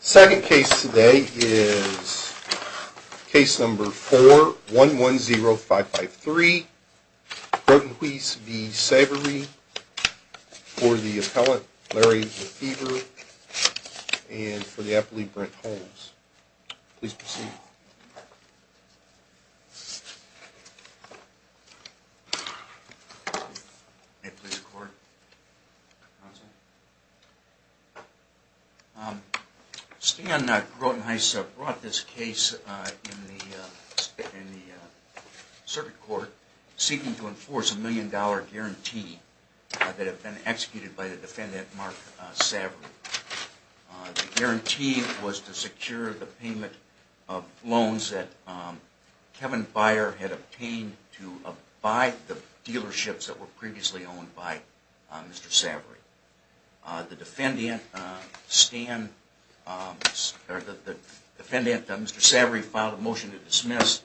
Second case today is case number 4110553, Grotenhuis v. Savoree, for the appellant Larry Lefebvre and for the appellee Brent Holmes. Please proceed. May it please the court, counsel. Stan Grotenhuis brought this case in the circuit court seeking to enforce a million dollar guarantee that had been executed by the defendant Mark Savoree. The guarantee was to secure the payment of loans that Kevin Byer had obtained to abide the dealerships that were previously owned by Mr. Savoree. The defendant, Mr. Savoree, filed a motion to dismiss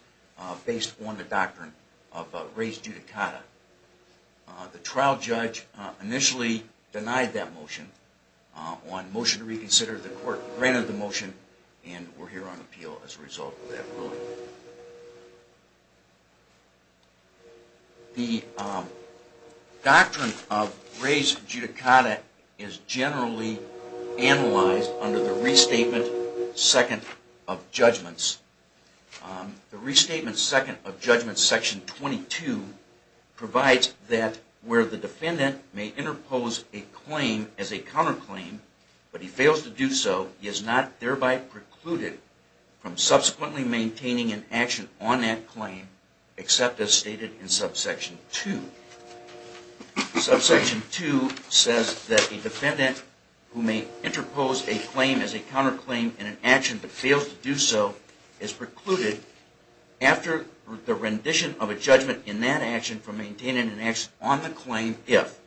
based on the doctrine of res judicata. The trial judge initially denied that motion. On motion to reconsider, the court granted the motion and we're here on appeal as a result of that ruling. The doctrine of res judicata is generally analyzed under the restatement second of judgments. The restatement second of judgments, section 22, provides that where the defendant may interpose a claim as a counterclaim, but he fails to do so, he is not thereby precluded from subsequently maintaining his claim. Subsection 2 says that a defendant who may interpose a claim as a counterclaim in an action, but fails to do so, is precluded after the rendition of a judgment in that action from maintaining an action on the claim if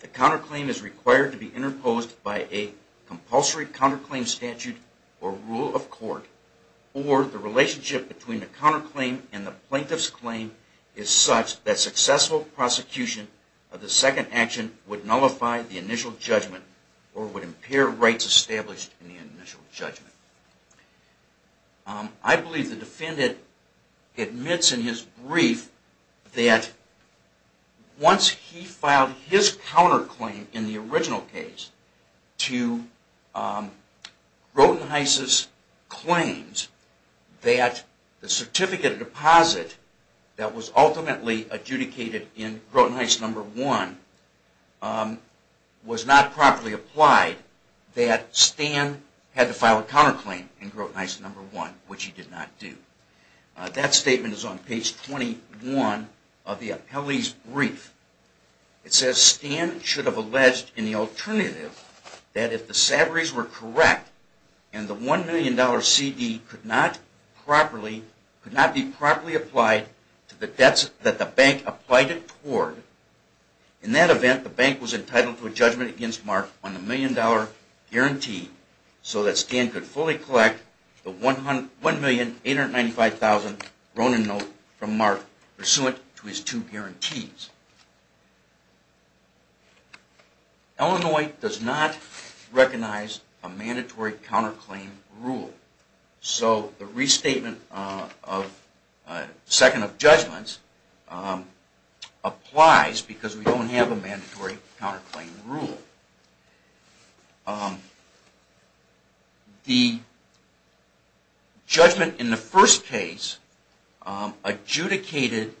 the counterclaim is required to be interposed by a compulsory counterclaim statute or rule of court or the relationship between the defendant and the defendant. The relationship between the counterclaim and the plaintiff's claim is such that successful prosecution of the second action would nullify the initial judgment or would impair rights established in the initial judgment. I believe the defendant admits in his brief that once he filed his counterclaim in the original case to Grotenheiss's claims that the certificate of deposit that was ultimately adjudicated in Grotenheiss No. 1 was not properly applied, that Stan had to file a counterclaim in Grotenheiss No. 1, which he did not do. That statement is on page 21 of the appellee's brief. It says, Stan should have alleged in the alternative that if the salaries were correct and the $1 million CD could not be properly applied to the debts that the bank applied it toward, in that event the bank was entitled to a judgment against Mark on the $1 million guarantee so that Stan could fully collect the $1,895,000 Groten note from Mark pursuant to his two guarantees. Illinois does not recognize a mandatory counterclaim rule. So the restatement of second of judgments applies because we don't have a mandatory counterclaim rule. The judgment in the first case adjudicated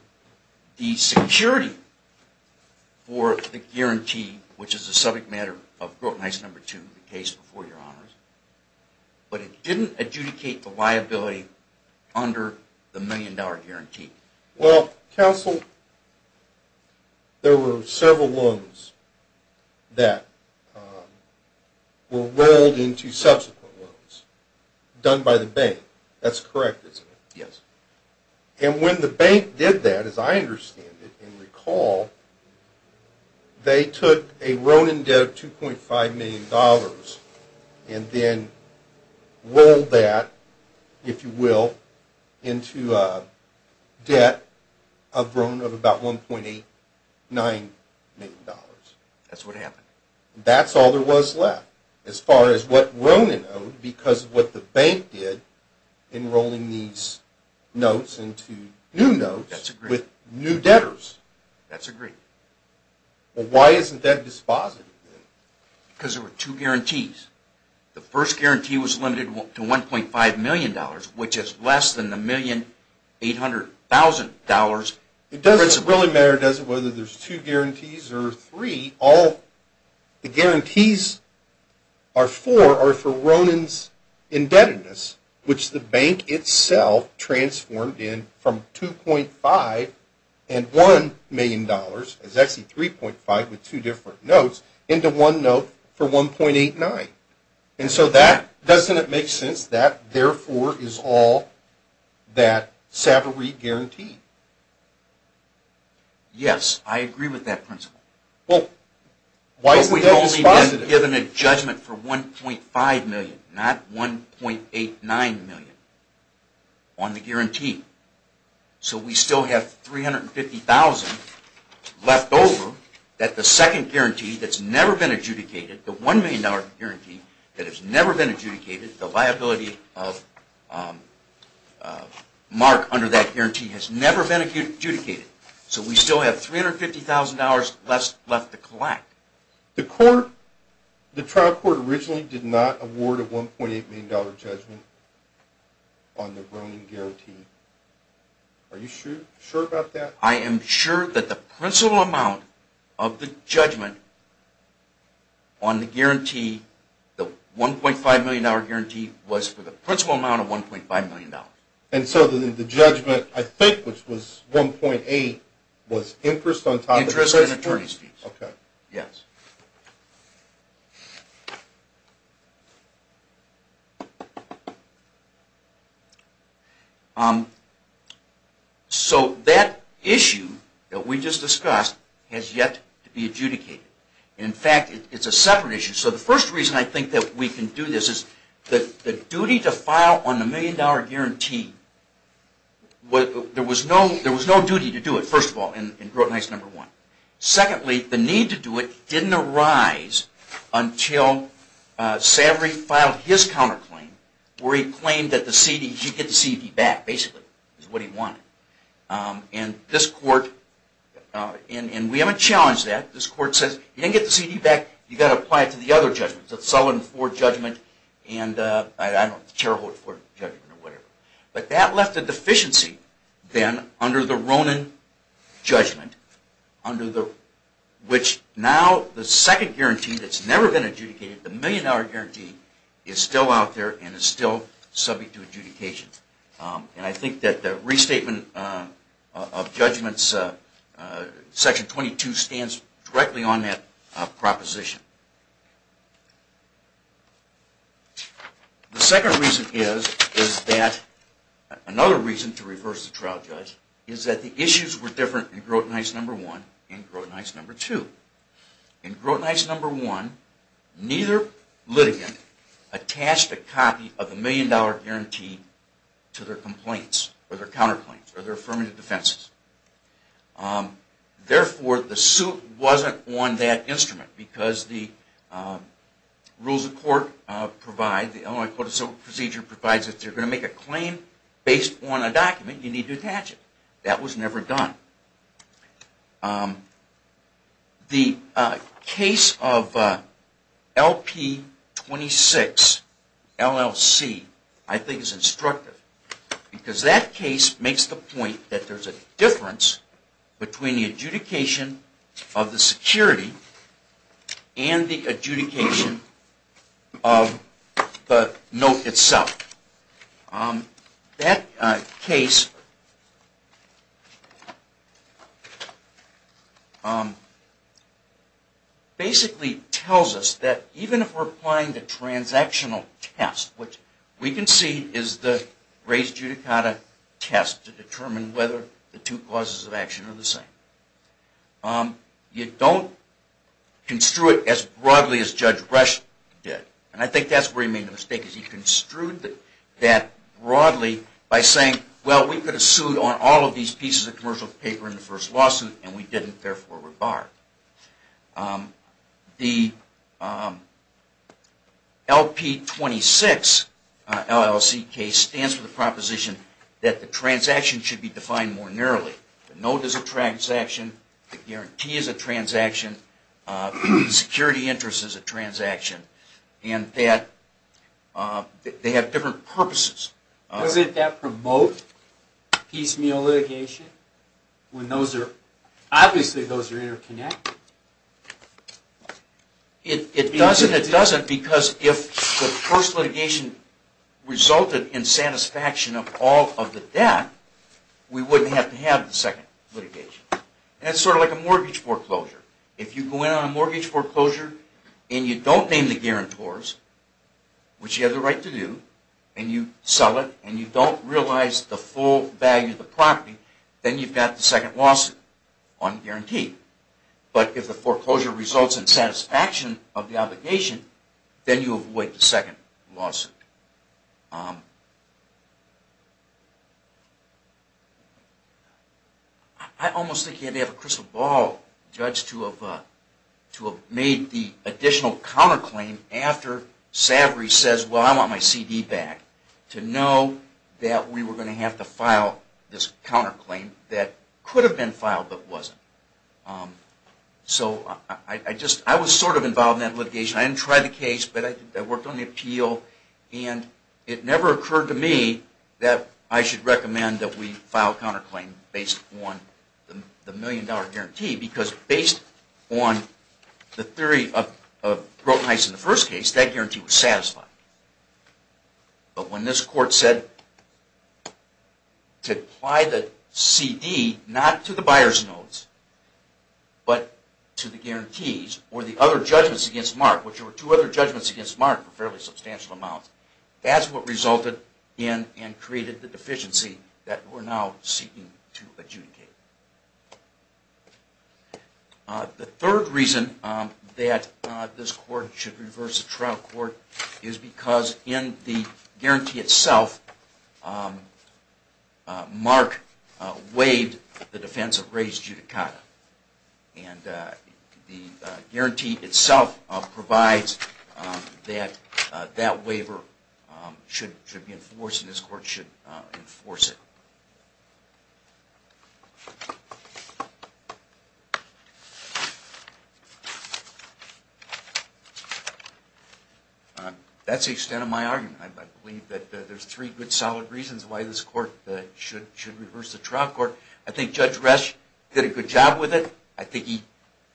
the security for the guarantee, which is the subject matter of Grotenheiss No. 2, the case before your honors, but it didn't adjudicate the liability under the $1 million guarantee. Well, counsel, there were several loans that were rolled into subsequent loans done by the bank. That's correct, isn't it? Yes. And when the bank did that, as I understand it and recall, they took a Ronan debt of $2.5 million and then rolled that, if you will, into a debt of about $1.89 million. That's what happened. That's all there was left as far as what Ronan owed because of what the bank did in rolling these notes into new notes with new debtors. That's agreed. Well, why isn't that dispositive then? Because there were two guarantees. The first guarantee was limited to $1.5 million, which is less than the $1,800,000 principle. It doesn't really matter, does it, whether there's two guarantees or three. All the guarantees are for are for Ronan's indebtedness, which the bank itself transformed in from $2.5 and $1 million, it's actually $3.5 with two different notes, into one note for $1.89. And so that, doesn't it make sense that therefore is all that Savarit Guarantee? Yes, I agree with that principle. Well, why isn't that dispositive? We've only been given a judgment for $1.5 million, not $1.89 million on the guarantee. So we still have $350,000 left over that the second guarantee that's never been adjudicated, the $1 million guarantee that has never been adjudicated, the liability of Mark under that guarantee has never been adjudicated. So we still have $350,000 left to collect. The trial court originally did not award a $1.8 million judgment on the Ronan Guarantee. Are you sure about that? I am sure that the principal amount of the judgment on the $1.5 million guarantee was for the principal amount of $1.5 million. And so the judgment, I think, which was $1.8 million, was interest on top of the principal? Yes. So that issue that we just discussed has yet to be adjudicated. In fact, it's a separate issue. So the first reason I think that we can do this is that the duty to file on the $1 million guarantee, there was no duty to do it, first of all, in Grotenheist No. 1. Secondly, the need to do it didn't arise until Savory filed his counterclaim where he claimed that the CD, he could get the CD back, basically, is what he wanted. And this court, and we haven't challenged that, this court says, you didn't get the CD back, you've got to apply it to the other judgments, the Sullivan 4 judgment, and I don't know, the Terre Haute 4 judgment or whatever. But that left a deficiency, then, under the Ronan judgment, which now, the second guarantee that's never been adjudicated, the million dollar guarantee, is still out there and is still subject to adjudication. And I think that the restatement of judgments, Section 22, stands directly on that proposition. The second reason is that, another reason to reverse the trial judge, is that the issues were different in Grotenheist No. 1 and Grotenheist No. 2. In Grotenheist No. 1, neither litigant attached a copy of the million dollar guarantee to their complaints, or their counterclaims, or their affirmative defenses. Therefore, the suit wasn't on that instrument because the rules of court provide, the Illinois Court of Civil Procedure provides that if you're going to make a claim based on a document, you need to attach it. That was never done. The case of LP26, LLC, I think is instructive. Because that case makes the point that there's a difference between the adjudication of the security and the adjudication of the note itself. That case basically tells us that even if we're applying the transactional test, which we can see is the res judicata test to determine whether the two clauses of action are the same, you don't construe it as broadly as Judge Rush did. And I think that's where he made the mistake, is he construed that broadly by saying, well, we could have sued on all of these pieces of commercial paper in the first lawsuit, and we didn't, therefore we're barred. The LP26, LLC case stands for the proposition that the transaction should be defined more narrowly. The note is a transaction, the guarantee is a transaction, the security interest is a transaction, and that they have different purposes. Doesn't that promote piecemeal litigation? Obviously those are interconnected. It doesn't, it doesn't, because if the first litigation resulted in satisfaction of all of the debt, we wouldn't have to have the second litigation. And it's sort of like a mortgage foreclosure. If you go in on a mortgage foreclosure and you don't name the guarantors, which you have the right to do, and you sell it and you don't realize the full value of the property, then you've got the second lawsuit on guarantee. But if the foreclosure results in satisfaction of the obligation, then you avoid the second lawsuit. I almost think you'd have to have a crystal ball judge to have made the additional counterclaim after Savery says, well, I want my CD back, to know that we were going to have to file this counterclaim that could have been filed but wasn't. So I was sort of involved in that litigation. I didn't try the case, but I worked on the appeal, and it never occurred to me that I should recommend that we file a counterclaim based on the million dollar guarantee, because based on the theory of Grotenheiss in the first case, that guarantee was satisfied. But when this court said to apply the CD not to the buyer's notes, but to the guarantees or the other judgments against Mark, which were two other judgments against Mark for fairly substantial amounts, that's what resulted in and created the deficiency that we're now seeking to adjudicate. The third reason that this court should reverse the trial court is because in the guarantee itself, Mark waived the defense of Ray's judicata, and the guarantee itself provides that that waiver should be enforced and this court should enforce it. That's the extent of my argument. I believe that there's three good, solid reasons why this court should reverse the trial court. I think Judge Resch did a good job with it. I think he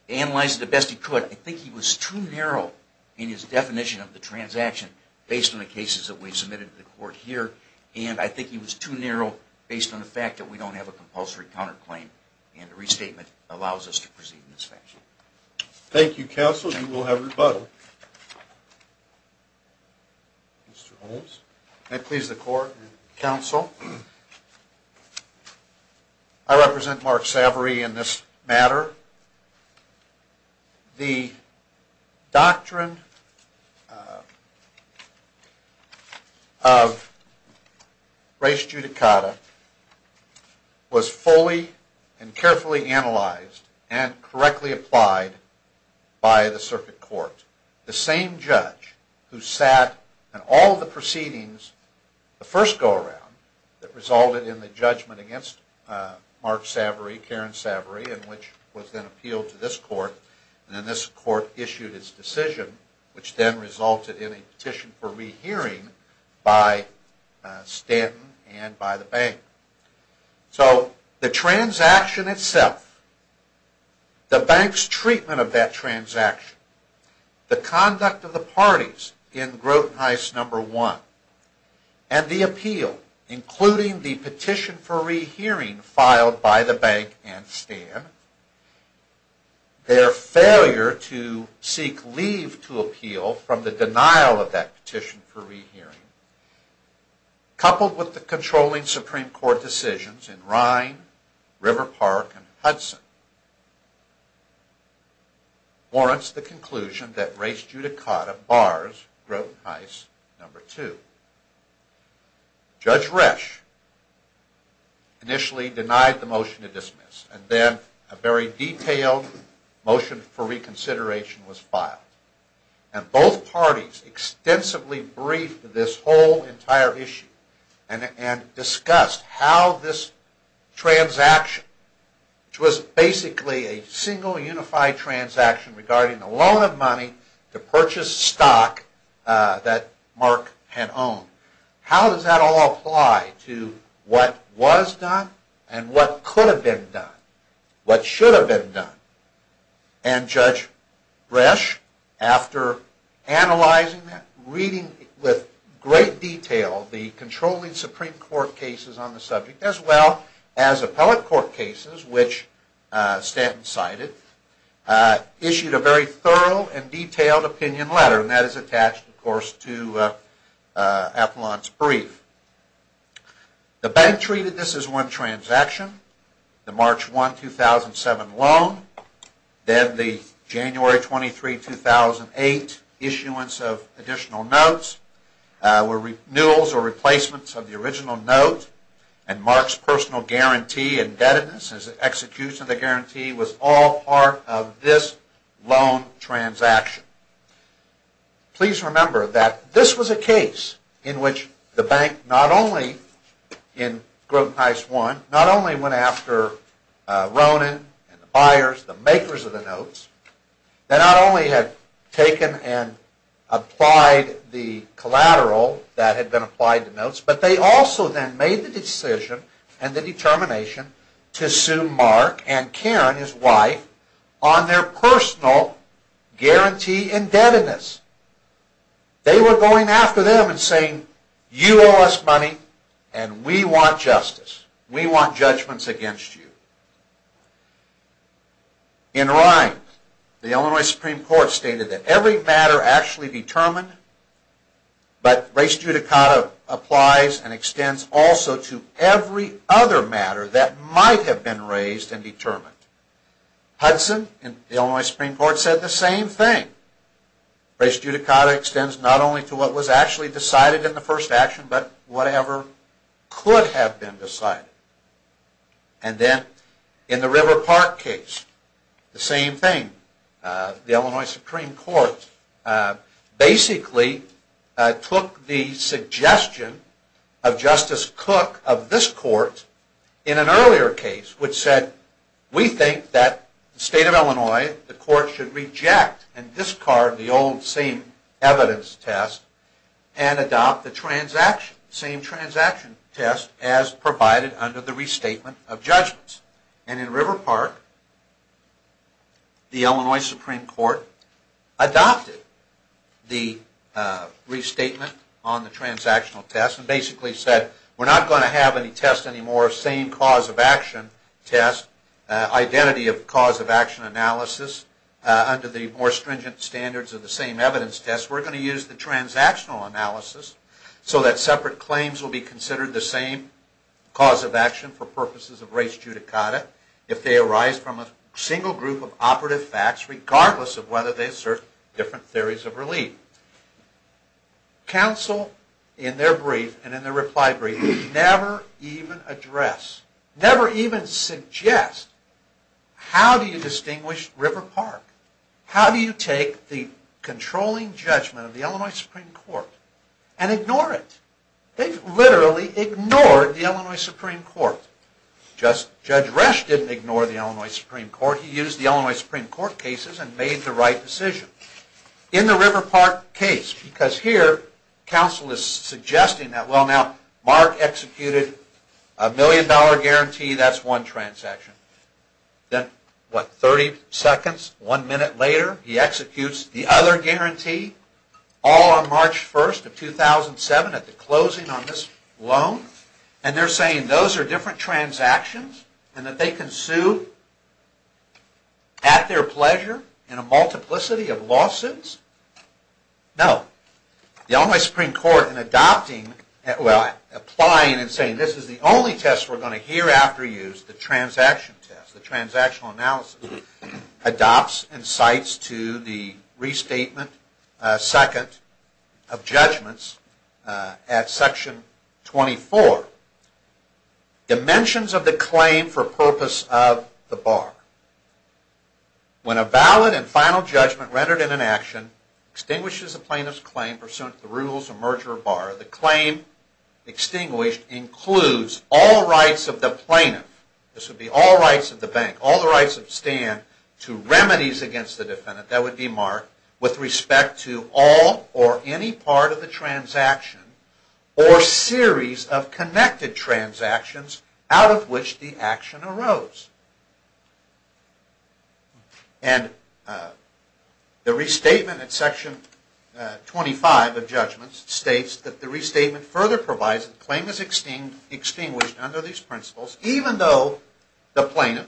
analyzed it the best he could. But I think he was too narrow in his definition of the transaction based on the cases that we submitted to the court here, and I think he was too narrow based on the fact that we don't have a compulsory counterclaim, and the restatement allows us to proceed in this fashion. Thank you, counsel. You will have rebuttal. Mr. Holmes. May it please the court and counsel. I represent Mark Savory in this matter. The doctrine of Ray's judicata was fully and carefully analyzed and correctly applied by the circuit court. The same judge who sat in all the proceedings, the first go around, that resulted in the judgment against Mark Savory, Karen Savory, and which was then appealed to this court, and then this court issued its decision, which then resulted in a petition for rehearing by Stanton and by the bank. So the transaction itself, the bank's treatment of that transaction, the conduct of the parties in Grotenheiss No. 1, and the appeal, including the petition for rehearing filed by the bank and Stanton, their failure to seek leave to appeal from the denial of that petition for rehearing, coupled with the controlling Supreme Court decisions in Rhine, River Park, and Hudson, warrants the conclusion that Ray's judicata bars Grotenheiss No. 2. Judge Resch initially denied the motion to dismiss, and then a very detailed motion for reconsideration was filed. And both parties extensively briefed this whole entire issue and discussed how this transaction, which was basically a single unified transaction regarding the loan of money to purchase stock that Mark had owned, how does that all apply to what was done and what could have been done, what should have been done? And Judge Resch, after analyzing that, reading with great detail the controlling Supreme Court cases on the subject, as well as appellate court cases, which Stanton cited, issued a very thorough and detailed opinion letter, and that is attached, of course, to Appellant's brief. The bank treated this as one transaction, the March 1, 2007 loan, then the January 23, 2008 issuance of additional notes, renewals or replacements of the original note, and Mark's personal guarantee, indebtedness, execution of the guarantee was all part of this loan transaction. Please remember that this was a case in which the bank not only, in Grotenheiss 1, not only went after Ronan and the buyers, the makers of the notes, they not only had taken and applied the collateral that had been applied to notes, but they also then made the decision and the determination to sue Mark and Karen, his wife, on their personal guarantee, indebtedness, execution of the guarantee. They were going after them and saying, you owe us money and we want justice. We want judgments against you. In Rind, the Illinois Supreme Court stated that every matter actually determined, but res judicata applies and extends also to every other matter that might have been raised and determined. Hudson in the Illinois Supreme Court said the same thing. Res judicata extends not only to what was actually decided in the first action, but whatever could have been decided. And then in the River Park case, the same thing. The Illinois Supreme Court basically took the suggestion of Justice Cook of this court in an earlier case, which said we think that the state of Illinois, the court should reject and discard the old same evidence test and adopt the transaction, same transaction test as provided under the Illinois Supreme Court. Under the restatement of judgments. And in River Park, the Illinois Supreme Court adopted the restatement on the transactional test and basically said we're not going to have any test anymore, same cause of action test, identity of cause of action analysis under the more stringent standards of the same evidence test. We're going to use the transactional analysis so that separate claims will be considered the same cause of action for purposes of res judicata if they arise from a single group of operative facts regardless of whether they assert different theories of relief. Counsel in their brief and in their reply brief never even address, never even suggest how do you distinguish River Park? How do you take the controlling judgment of the Illinois Supreme Court and ignore it? They've literally ignored the Illinois Supreme Court. Judge Resch didn't ignore the Illinois Supreme Court. He used the Illinois Supreme Court cases and made the right decision. In the River Park case, because here counsel is suggesting that well now Mark executed a million dollar guarantee, that's one transaction. Then what, 30 seconds, one minute later he executes the other guarantee all on March 1st of 2007 at the closing on this loan and they're saying those are different transactions and that they can sue at their pleasure in a multiplicity of loans. Are those lawsuits? No. The Illinois Supreme Court in adopting, well applying and saying this is the only test we're going to hereafter use, the transaction test, the transactional analysis, adopts and cites to the restatement second of judgments at section 24 dimensions of the claim for purpose of the bar. When a valid and final judgment rendered in an action extinguishes a plaintiff's claim pursuant to the rules of merger or bar, the claim extinguished includes all rights of the plaintiff, this would be all rights of the bank, all the rights that stand to remedies against the defendant, that would be Mark, with respect to all or any part of the transaction or series of connected transactions out of which the action arose. And the restatement at section 25 of judgments states that the restatement further provides that the claim is extinguished under these principles even though the plaintiff,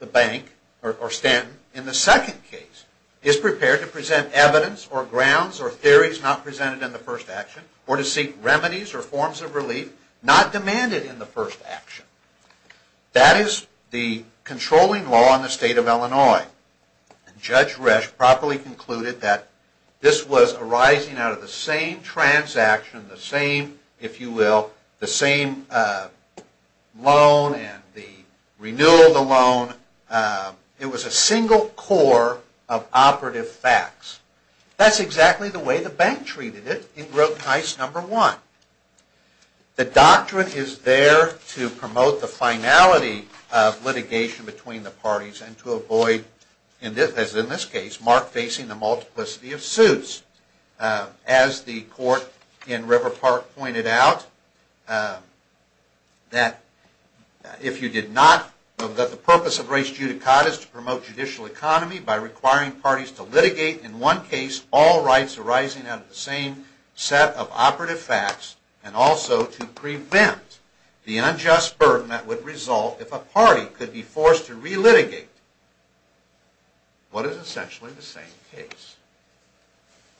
the bank or Stanton in the second case is prepared to present evidence or grounds or theories not presented in the first action or to seek remedies or forms of relief not demanded in the first action. That is the controlling law in the state of Illinois. And Judge Resch properly concluded that this was arising out of the same transaction, the same, if you will, the same loan and the renewal of the loan. It was a single core of operative facts. That's exactly the way the bank treated it in Broken Heist number one. The doctrine is there to promote the finality of litigation between the parties and to avoid, as in this case, Mark facing the multiplicity of suits. As the court in River Park pointed out, that if you did not, that the purpose of res judicata is to promote judicial economy by requiring parties to litigate in one case all rights arising out of the same set of operative facts and also to prevent the unjust burden that would result if a party could be forced to relitigate what is essentially the same case.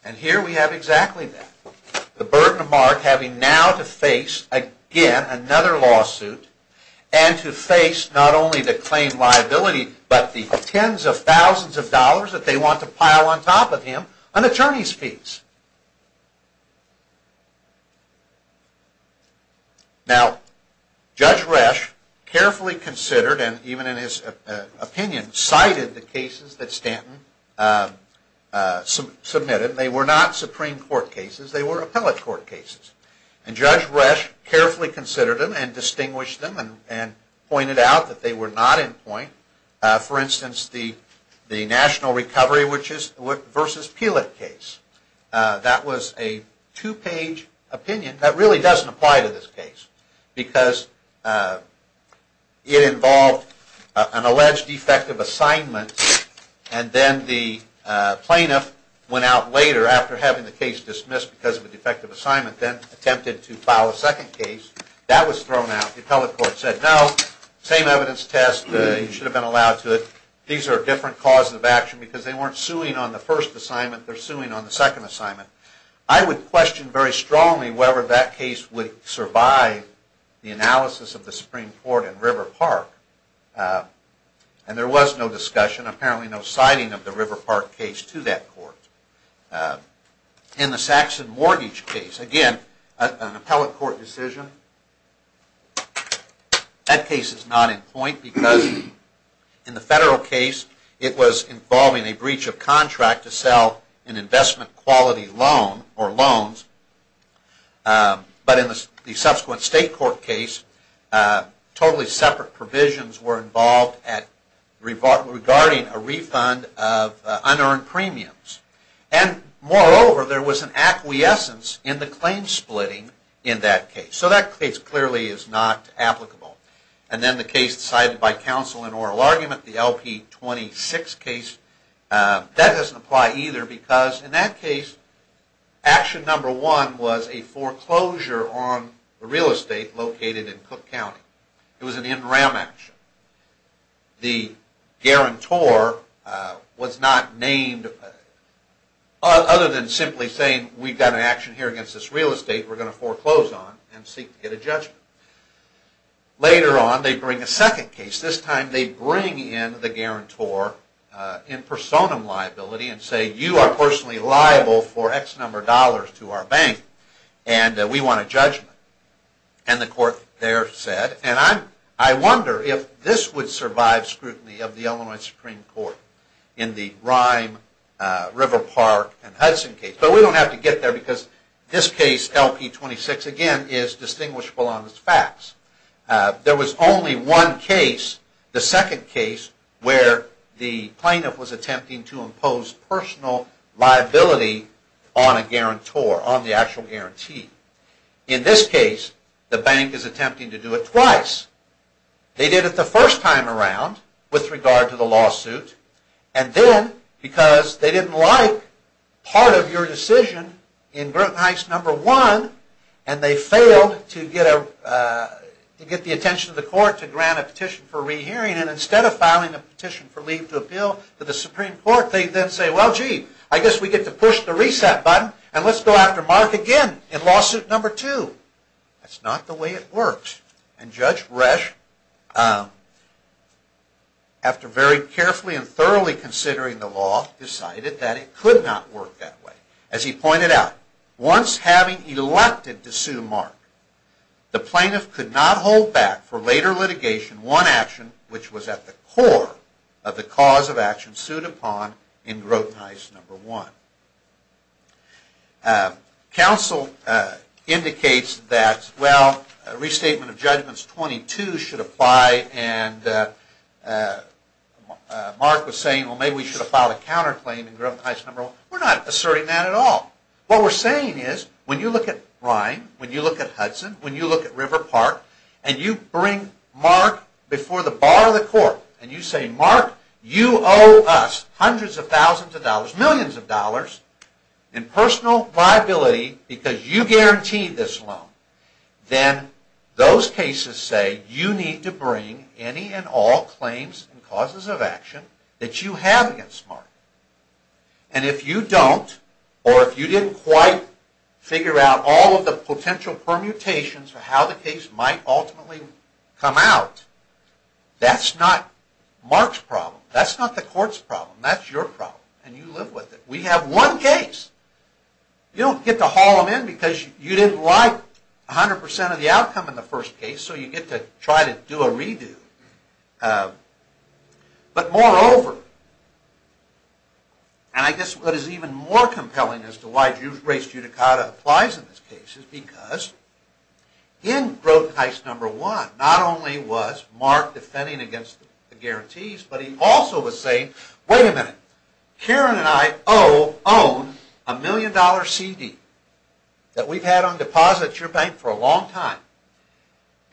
And here we have exactly that. The burden of Mark having now to face again another lawsuit and to face not only the claim liability but the tens of thousands of dollars that they want to pile on top of him on attorney's fees. Now, Judge Resch carefully considered and even in his opinion cited the cases that Stanton submitted. They were not Supreme Court cases. They were appellate court cases. And Judge Resch carefully considered them and distinguished them and pointed out that they were not in point. For instance, the National Recovery versus Peelett case. That was a two-page opinion that really doesn't apply to this case because it involved an alleged defective assignment and then the plaintiff went out later after having the case dismissed because of a defective assignment then attempted to file a second case. That was thrown out. The appellate court said no. Same evidence test. You should have been allowed to. These are different causes of action because they weren't suing on the first assignment. They're suing on the second assignment. I would question very strongly whether that case would survive the analysis of the Supreme Court in River Park. And there was no discussion, apparently no citing of the River Park case to that court. In the Saxon Mortgage case, again, an appellate court decision. That case is not in point because in the federal case it was involving a breach of contract to sell an investment quality loan or loans. But in the subsequent state court case, totally separate provisions were involved regarding a refund of unearned premiums. And moreover, there was an acquiescence in the claim splitting in that case. So that case clearly is not applicable. And then the case decided by counsel in oral argument, the LP-26 case. That doesn't apply either because in that case, action number one was a foreclosure on real estate located in Cook County. It was an NRAM action. The guarantor was not named, other than simply saying we've got an action here against this real estate we're going to foreclose on and seek to get a judgment. Later on, they bring a second case. This time they bring in the guarantor in personam liability and say you are personally liable for X number of dollars to our bank and we want a judgment. And the court there said, and I wonder if this would survive scrutiny of the Illinois Supreme Court in the Rime, River Park, and Hudson case. But we don't have to get there because this case, LP-26, again is distinguishable on its facts. There was only one case, the second case, where the plaintiff was attempting to impose personal liability on a guarantor, on the actual guarantee. In this case, the bank is attempting to do it twice. They did it the first time around with regard to the lawsuit, and then because they didn't like part of your decision in Grotenheist number one, and they failed to get the attention of the court to grant a petition for rehearing, and instead of filing a petition for leave to appeal to the Supreme Court, they then say, well gee, I guess we get to push the reset button and let's go after Mark again in lawsuit number two. That's not the way it works. And Judge Resch, after very carefully and thoroughly considering the law, decided that it could not work that way. As he pointed out, once having elected to sue Mark, the plaintiff could not hold back for later litigation, one action which was at the core of the cause of action sued upon in Grotenheist number one. Counsel indicates that, well, restatement of judgments 22 should apply, and Mark was saying, well maybe we should have filed a counterclaim in Grotenheist number one. We're not asserting that at all. What we're saying is, when you look at Ryan, when you look at Hudson, when you look at River Park, and you bring Mark before the bar of the court, and you say, Mark, you owe us hundreds of thousands of dollars, millions of dollars in personal liability because you guaranteed this loan, then those cases say you need to bring any and all claims and causes of action that you have against Mark. And if you don't, or if you didn't quite figure out all of the potential permutations for how the case might ultimately come out, that's not Mark's problem. That's not the court's problem. That's your problem, and you live with it. We have one case. You don't get to haul them in because you didn't like 100% of the outcome in the first case, so you get to try to do a redo. But moreover, and I guess what is even more compelling as to why race judicata applies in this case, is because in Grotenheist number one, not only was Mark defending against the guarantees, but he also was saying, wait a minute, Karen and I own a million dollar CD that we've had on deposit at your bank for a long time,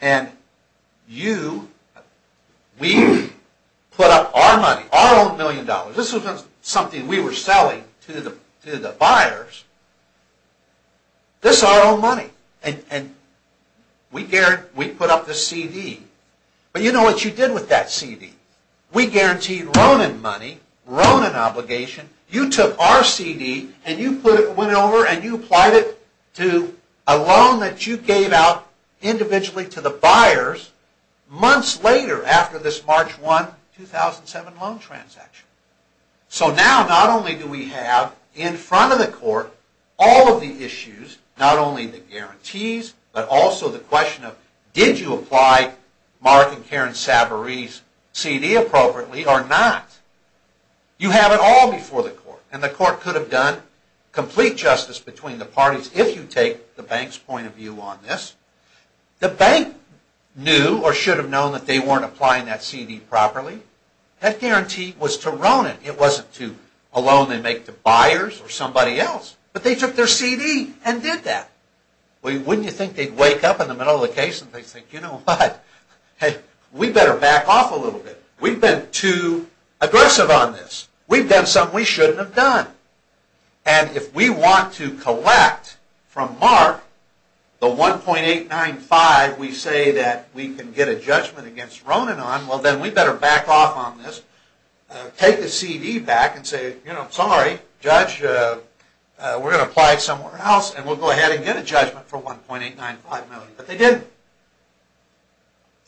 and you, we put up our money, our own million dollars. This wasn't something we were selling to the buyers. This is our own money, and we put up this CD. But you know what you did with that CD? We guaranteed Ronen money, Ronen obligation. You took our CD and you went over and you applied it to a loan that you gave out individually to the buyers months later after this March 1, 2007 loan transaction. So now not only do we have in front of the court all of the issues, not only the guarantees, but also the question of did you apply Mark and Karen Savaree's CD appropriately or not? You have it all before the court, and the court could have done complete justice between the parties if you take the bank's point of view on this. The bank knew or should have known that they weren't applying that CD properly. That guarantee was to Ronen. It wasn't to a loan they make to buyers or somebody else. But they took their CD and did that. Wouldn't you think they'd wake up in the middle of the case and think, you know what, we better back off a little bit. We've been too aggressive on this. We've done something we shouldn't have done. And if we want to collect from Mark the 1.895, we say that we can get a judgment against Ronen on, well then we better back off on this, take the CD back and say, you know, sorry, Judge, we're going to apply it somewhere else and we'll go ahead and get a judgment for 1.895 million. But they didn't.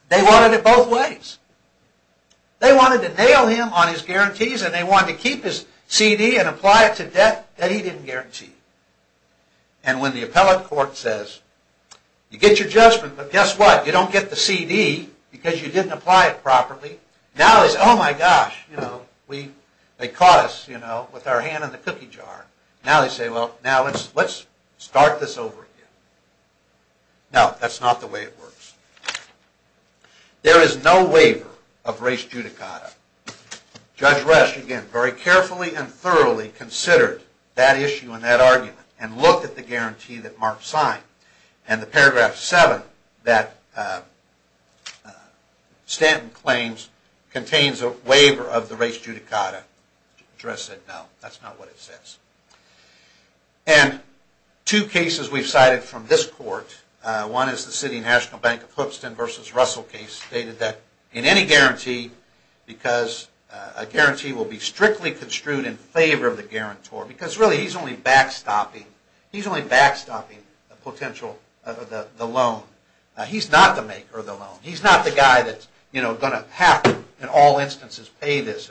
They wanted it both ways. They wanted to nail him on his guarantees and they wanted to keep his CD and apply it to debt that he didn't guarantee. And when the appellate court says, you get your judgment, but guess what, you don't get the CD because you didn't apply it properly. Now they say, oh my gosh, they caught us with our hand in the cookie jar. Now they say, well, now let's start this over again. No, that's not the way it works. There is no waiver of res judicata. Judge Resch, again, very carefully and thoroughly considered that issue and that argument and looked at the guarantee that Mark signed and the paragraph 7 that Stanton claims contains a waiver of the res judicata. Judge Resch said, no, that's not what it says. And two cases we've cited from this court, one is the City National Bank of Clipston v. Russell case, stated that in any guarantee, because a guarantee will be strictly construed in favor of the guarantor, because really he's only backstopping, he's only backstopping the potential, the loan. He's not the maker of the loan. He's not the guy that's, you know, going to have to, in all instances, pay this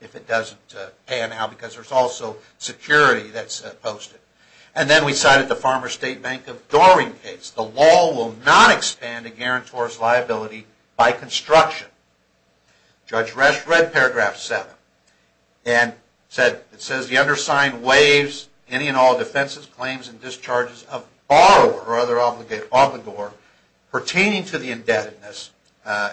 if it doesn't pay now because there's also security that's posted. And then we cited the Farmer State Bank of Dorring case. The law will not expand a guarantor's liability by construction. Judge Resch read paragraph 7 and said, it says the undersigned waives any and all defenses, claims, and discharges of borrower or other obligor pertaining to the indebtedness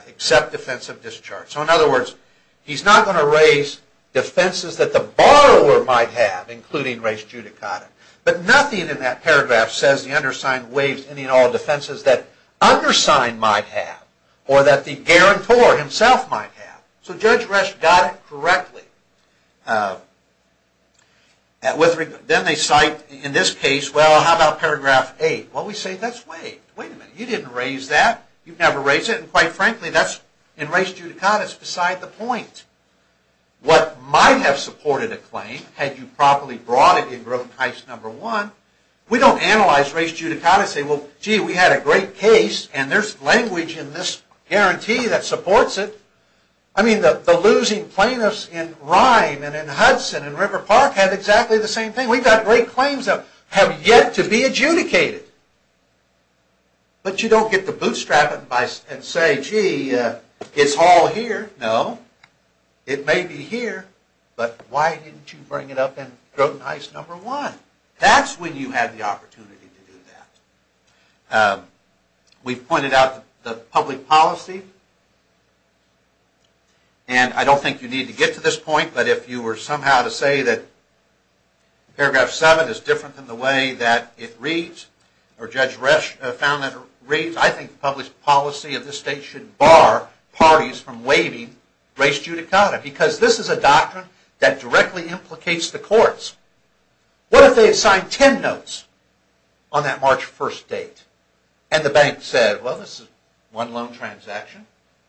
except defensive discharge. So in other words, he's not going to raise defenses that the borrower might have, including res judicata. But nothing in that paragraph says the undersigned waives any and all defenses that undersigned might have or that the guarantor himself might have. So Judge Resch got it correctly. Then they cite in this case, well, how about paragraph 8? Well, we say that's waived. Wait a minute. You didn't raise that. You've never raised it. And quite frankly, that's, in res judicata, that's beside the point. What might have supported a claim, had you properly brought it in growth heist number 1, we don't analyze res judicata and say, well, gee, we had a great case and there's language in this guarantee that supports it. I mean, the losing plaintiffs in Rhine and in Hudson and in River Park have exactly the same thing. We've got great claims that have yet to be adjudicated. But you don't get to bootstrap it and say, gee, it's all here. No. It may be here, but why didn't you bring it up in growth heist number 1? That's when you had the opportunity to do that. We've pointed out the public policy. And I don't think you need to get to this point, but if you were somehow to say that paragraph 7 is different than the way that it reads, or Judge Resch found that it reads, I think the public policy of this state should bar parties from waiving res judicata. Because this is a doctrine that directly implicates the courts. What if they assigned 10 notes on that March 1st date? And the bank said, well, this is one loan transaction.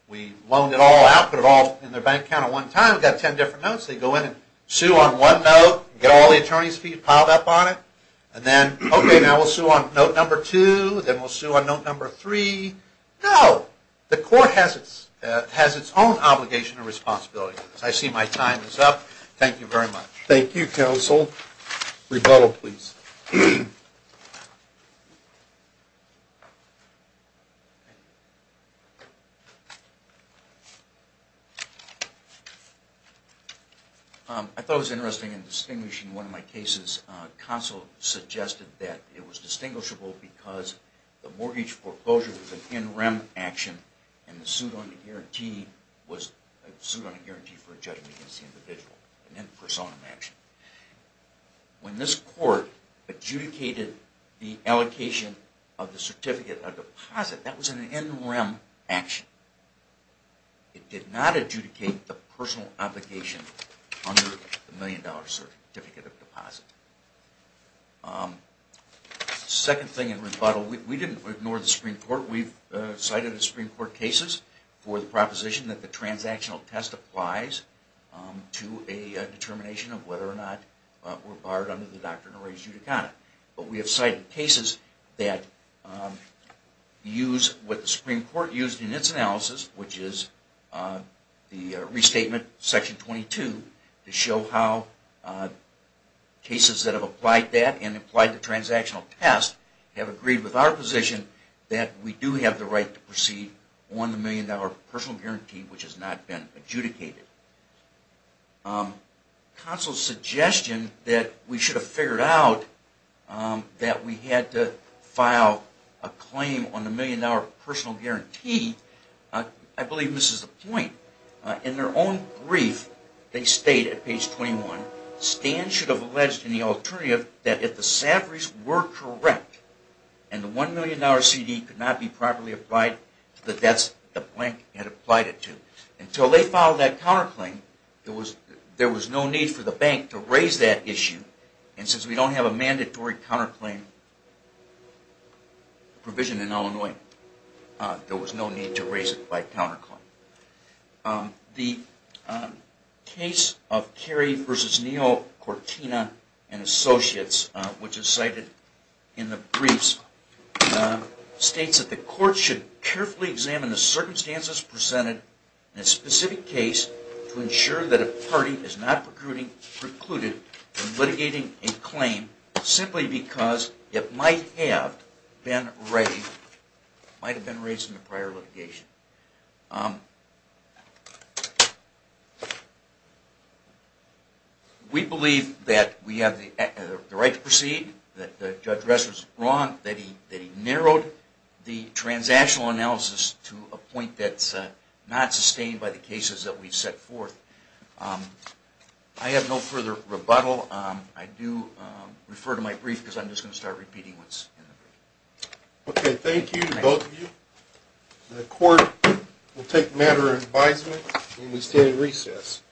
We loaned it all out, put it all in their bank account at one time. We've got 10 different notes. Sue on one note, get all the attorney's fees piled up on it, and then, okay, now we'll sue on note number 2, then we'll sue on note number 3. No. The court has its own obligation and responsibility. I see my time is up. Thank you very much. I thought it was interesting in distinguishing one of my cases. Consul suggested that it was distinguishable because the mortgage proposal was an in rem action, and the suit on the guarantee was a suit on a guarantee for a judgment against the individual. When this court adjudicated the allocation of the certificate of deposit, that was an in rem action. It did not adjudicate the personal obligation under the million dollar certificate of deposit. Second thing in rebuttal, we didn't ignore the Supreme Court. We've cited Supreme Court cases for the proposition that the transactional test applies to a determination of whether or not we're barred under the Doctrine or Res judicata. But we have cited cases that use what the Supreme Court used in its analysis, which is the restatement section 22, to show how cases that have applied that transactional test have agreed with our position that we do have the right to proceed on the million dollar personal guarantee which has not been adjudicated. Consul's suggestion that we should have figured out that we had to file a claim on the million dollar personal guarantee, I believe misses the point. In their own brief, they state at page 21, Stan should have alleged in the alternative that if the salaries were correct, and the one million dollar CD could not be properly applied to the debts the bank had applied it to. Until they filed that counterclaim, there was no need for the bank to raise that issue. And since we don't have a mandatory counterclaim provision in Illinois, there was no need to raise it by counterclaim. The case of Carey v. Neal, Cortina, and Associates, which is cited in the briefs, states that the court should carefully examine the circumstances presented in a specific case to ensure that a party is not precluded from litigating a claim simply because it might have been raised in a prior litigation. We believe that we have the right to proceed, that Judge Rest was wrong, that he narrowed the transactional analysis to a point that's not sustained by the cases that we've set forth. I have no further rebuttal. I do refer to my brief because I'm just going to start repeating what's in the brief. Okay, thank you to both of you. The court will take a matter of advisement and we stand in recess.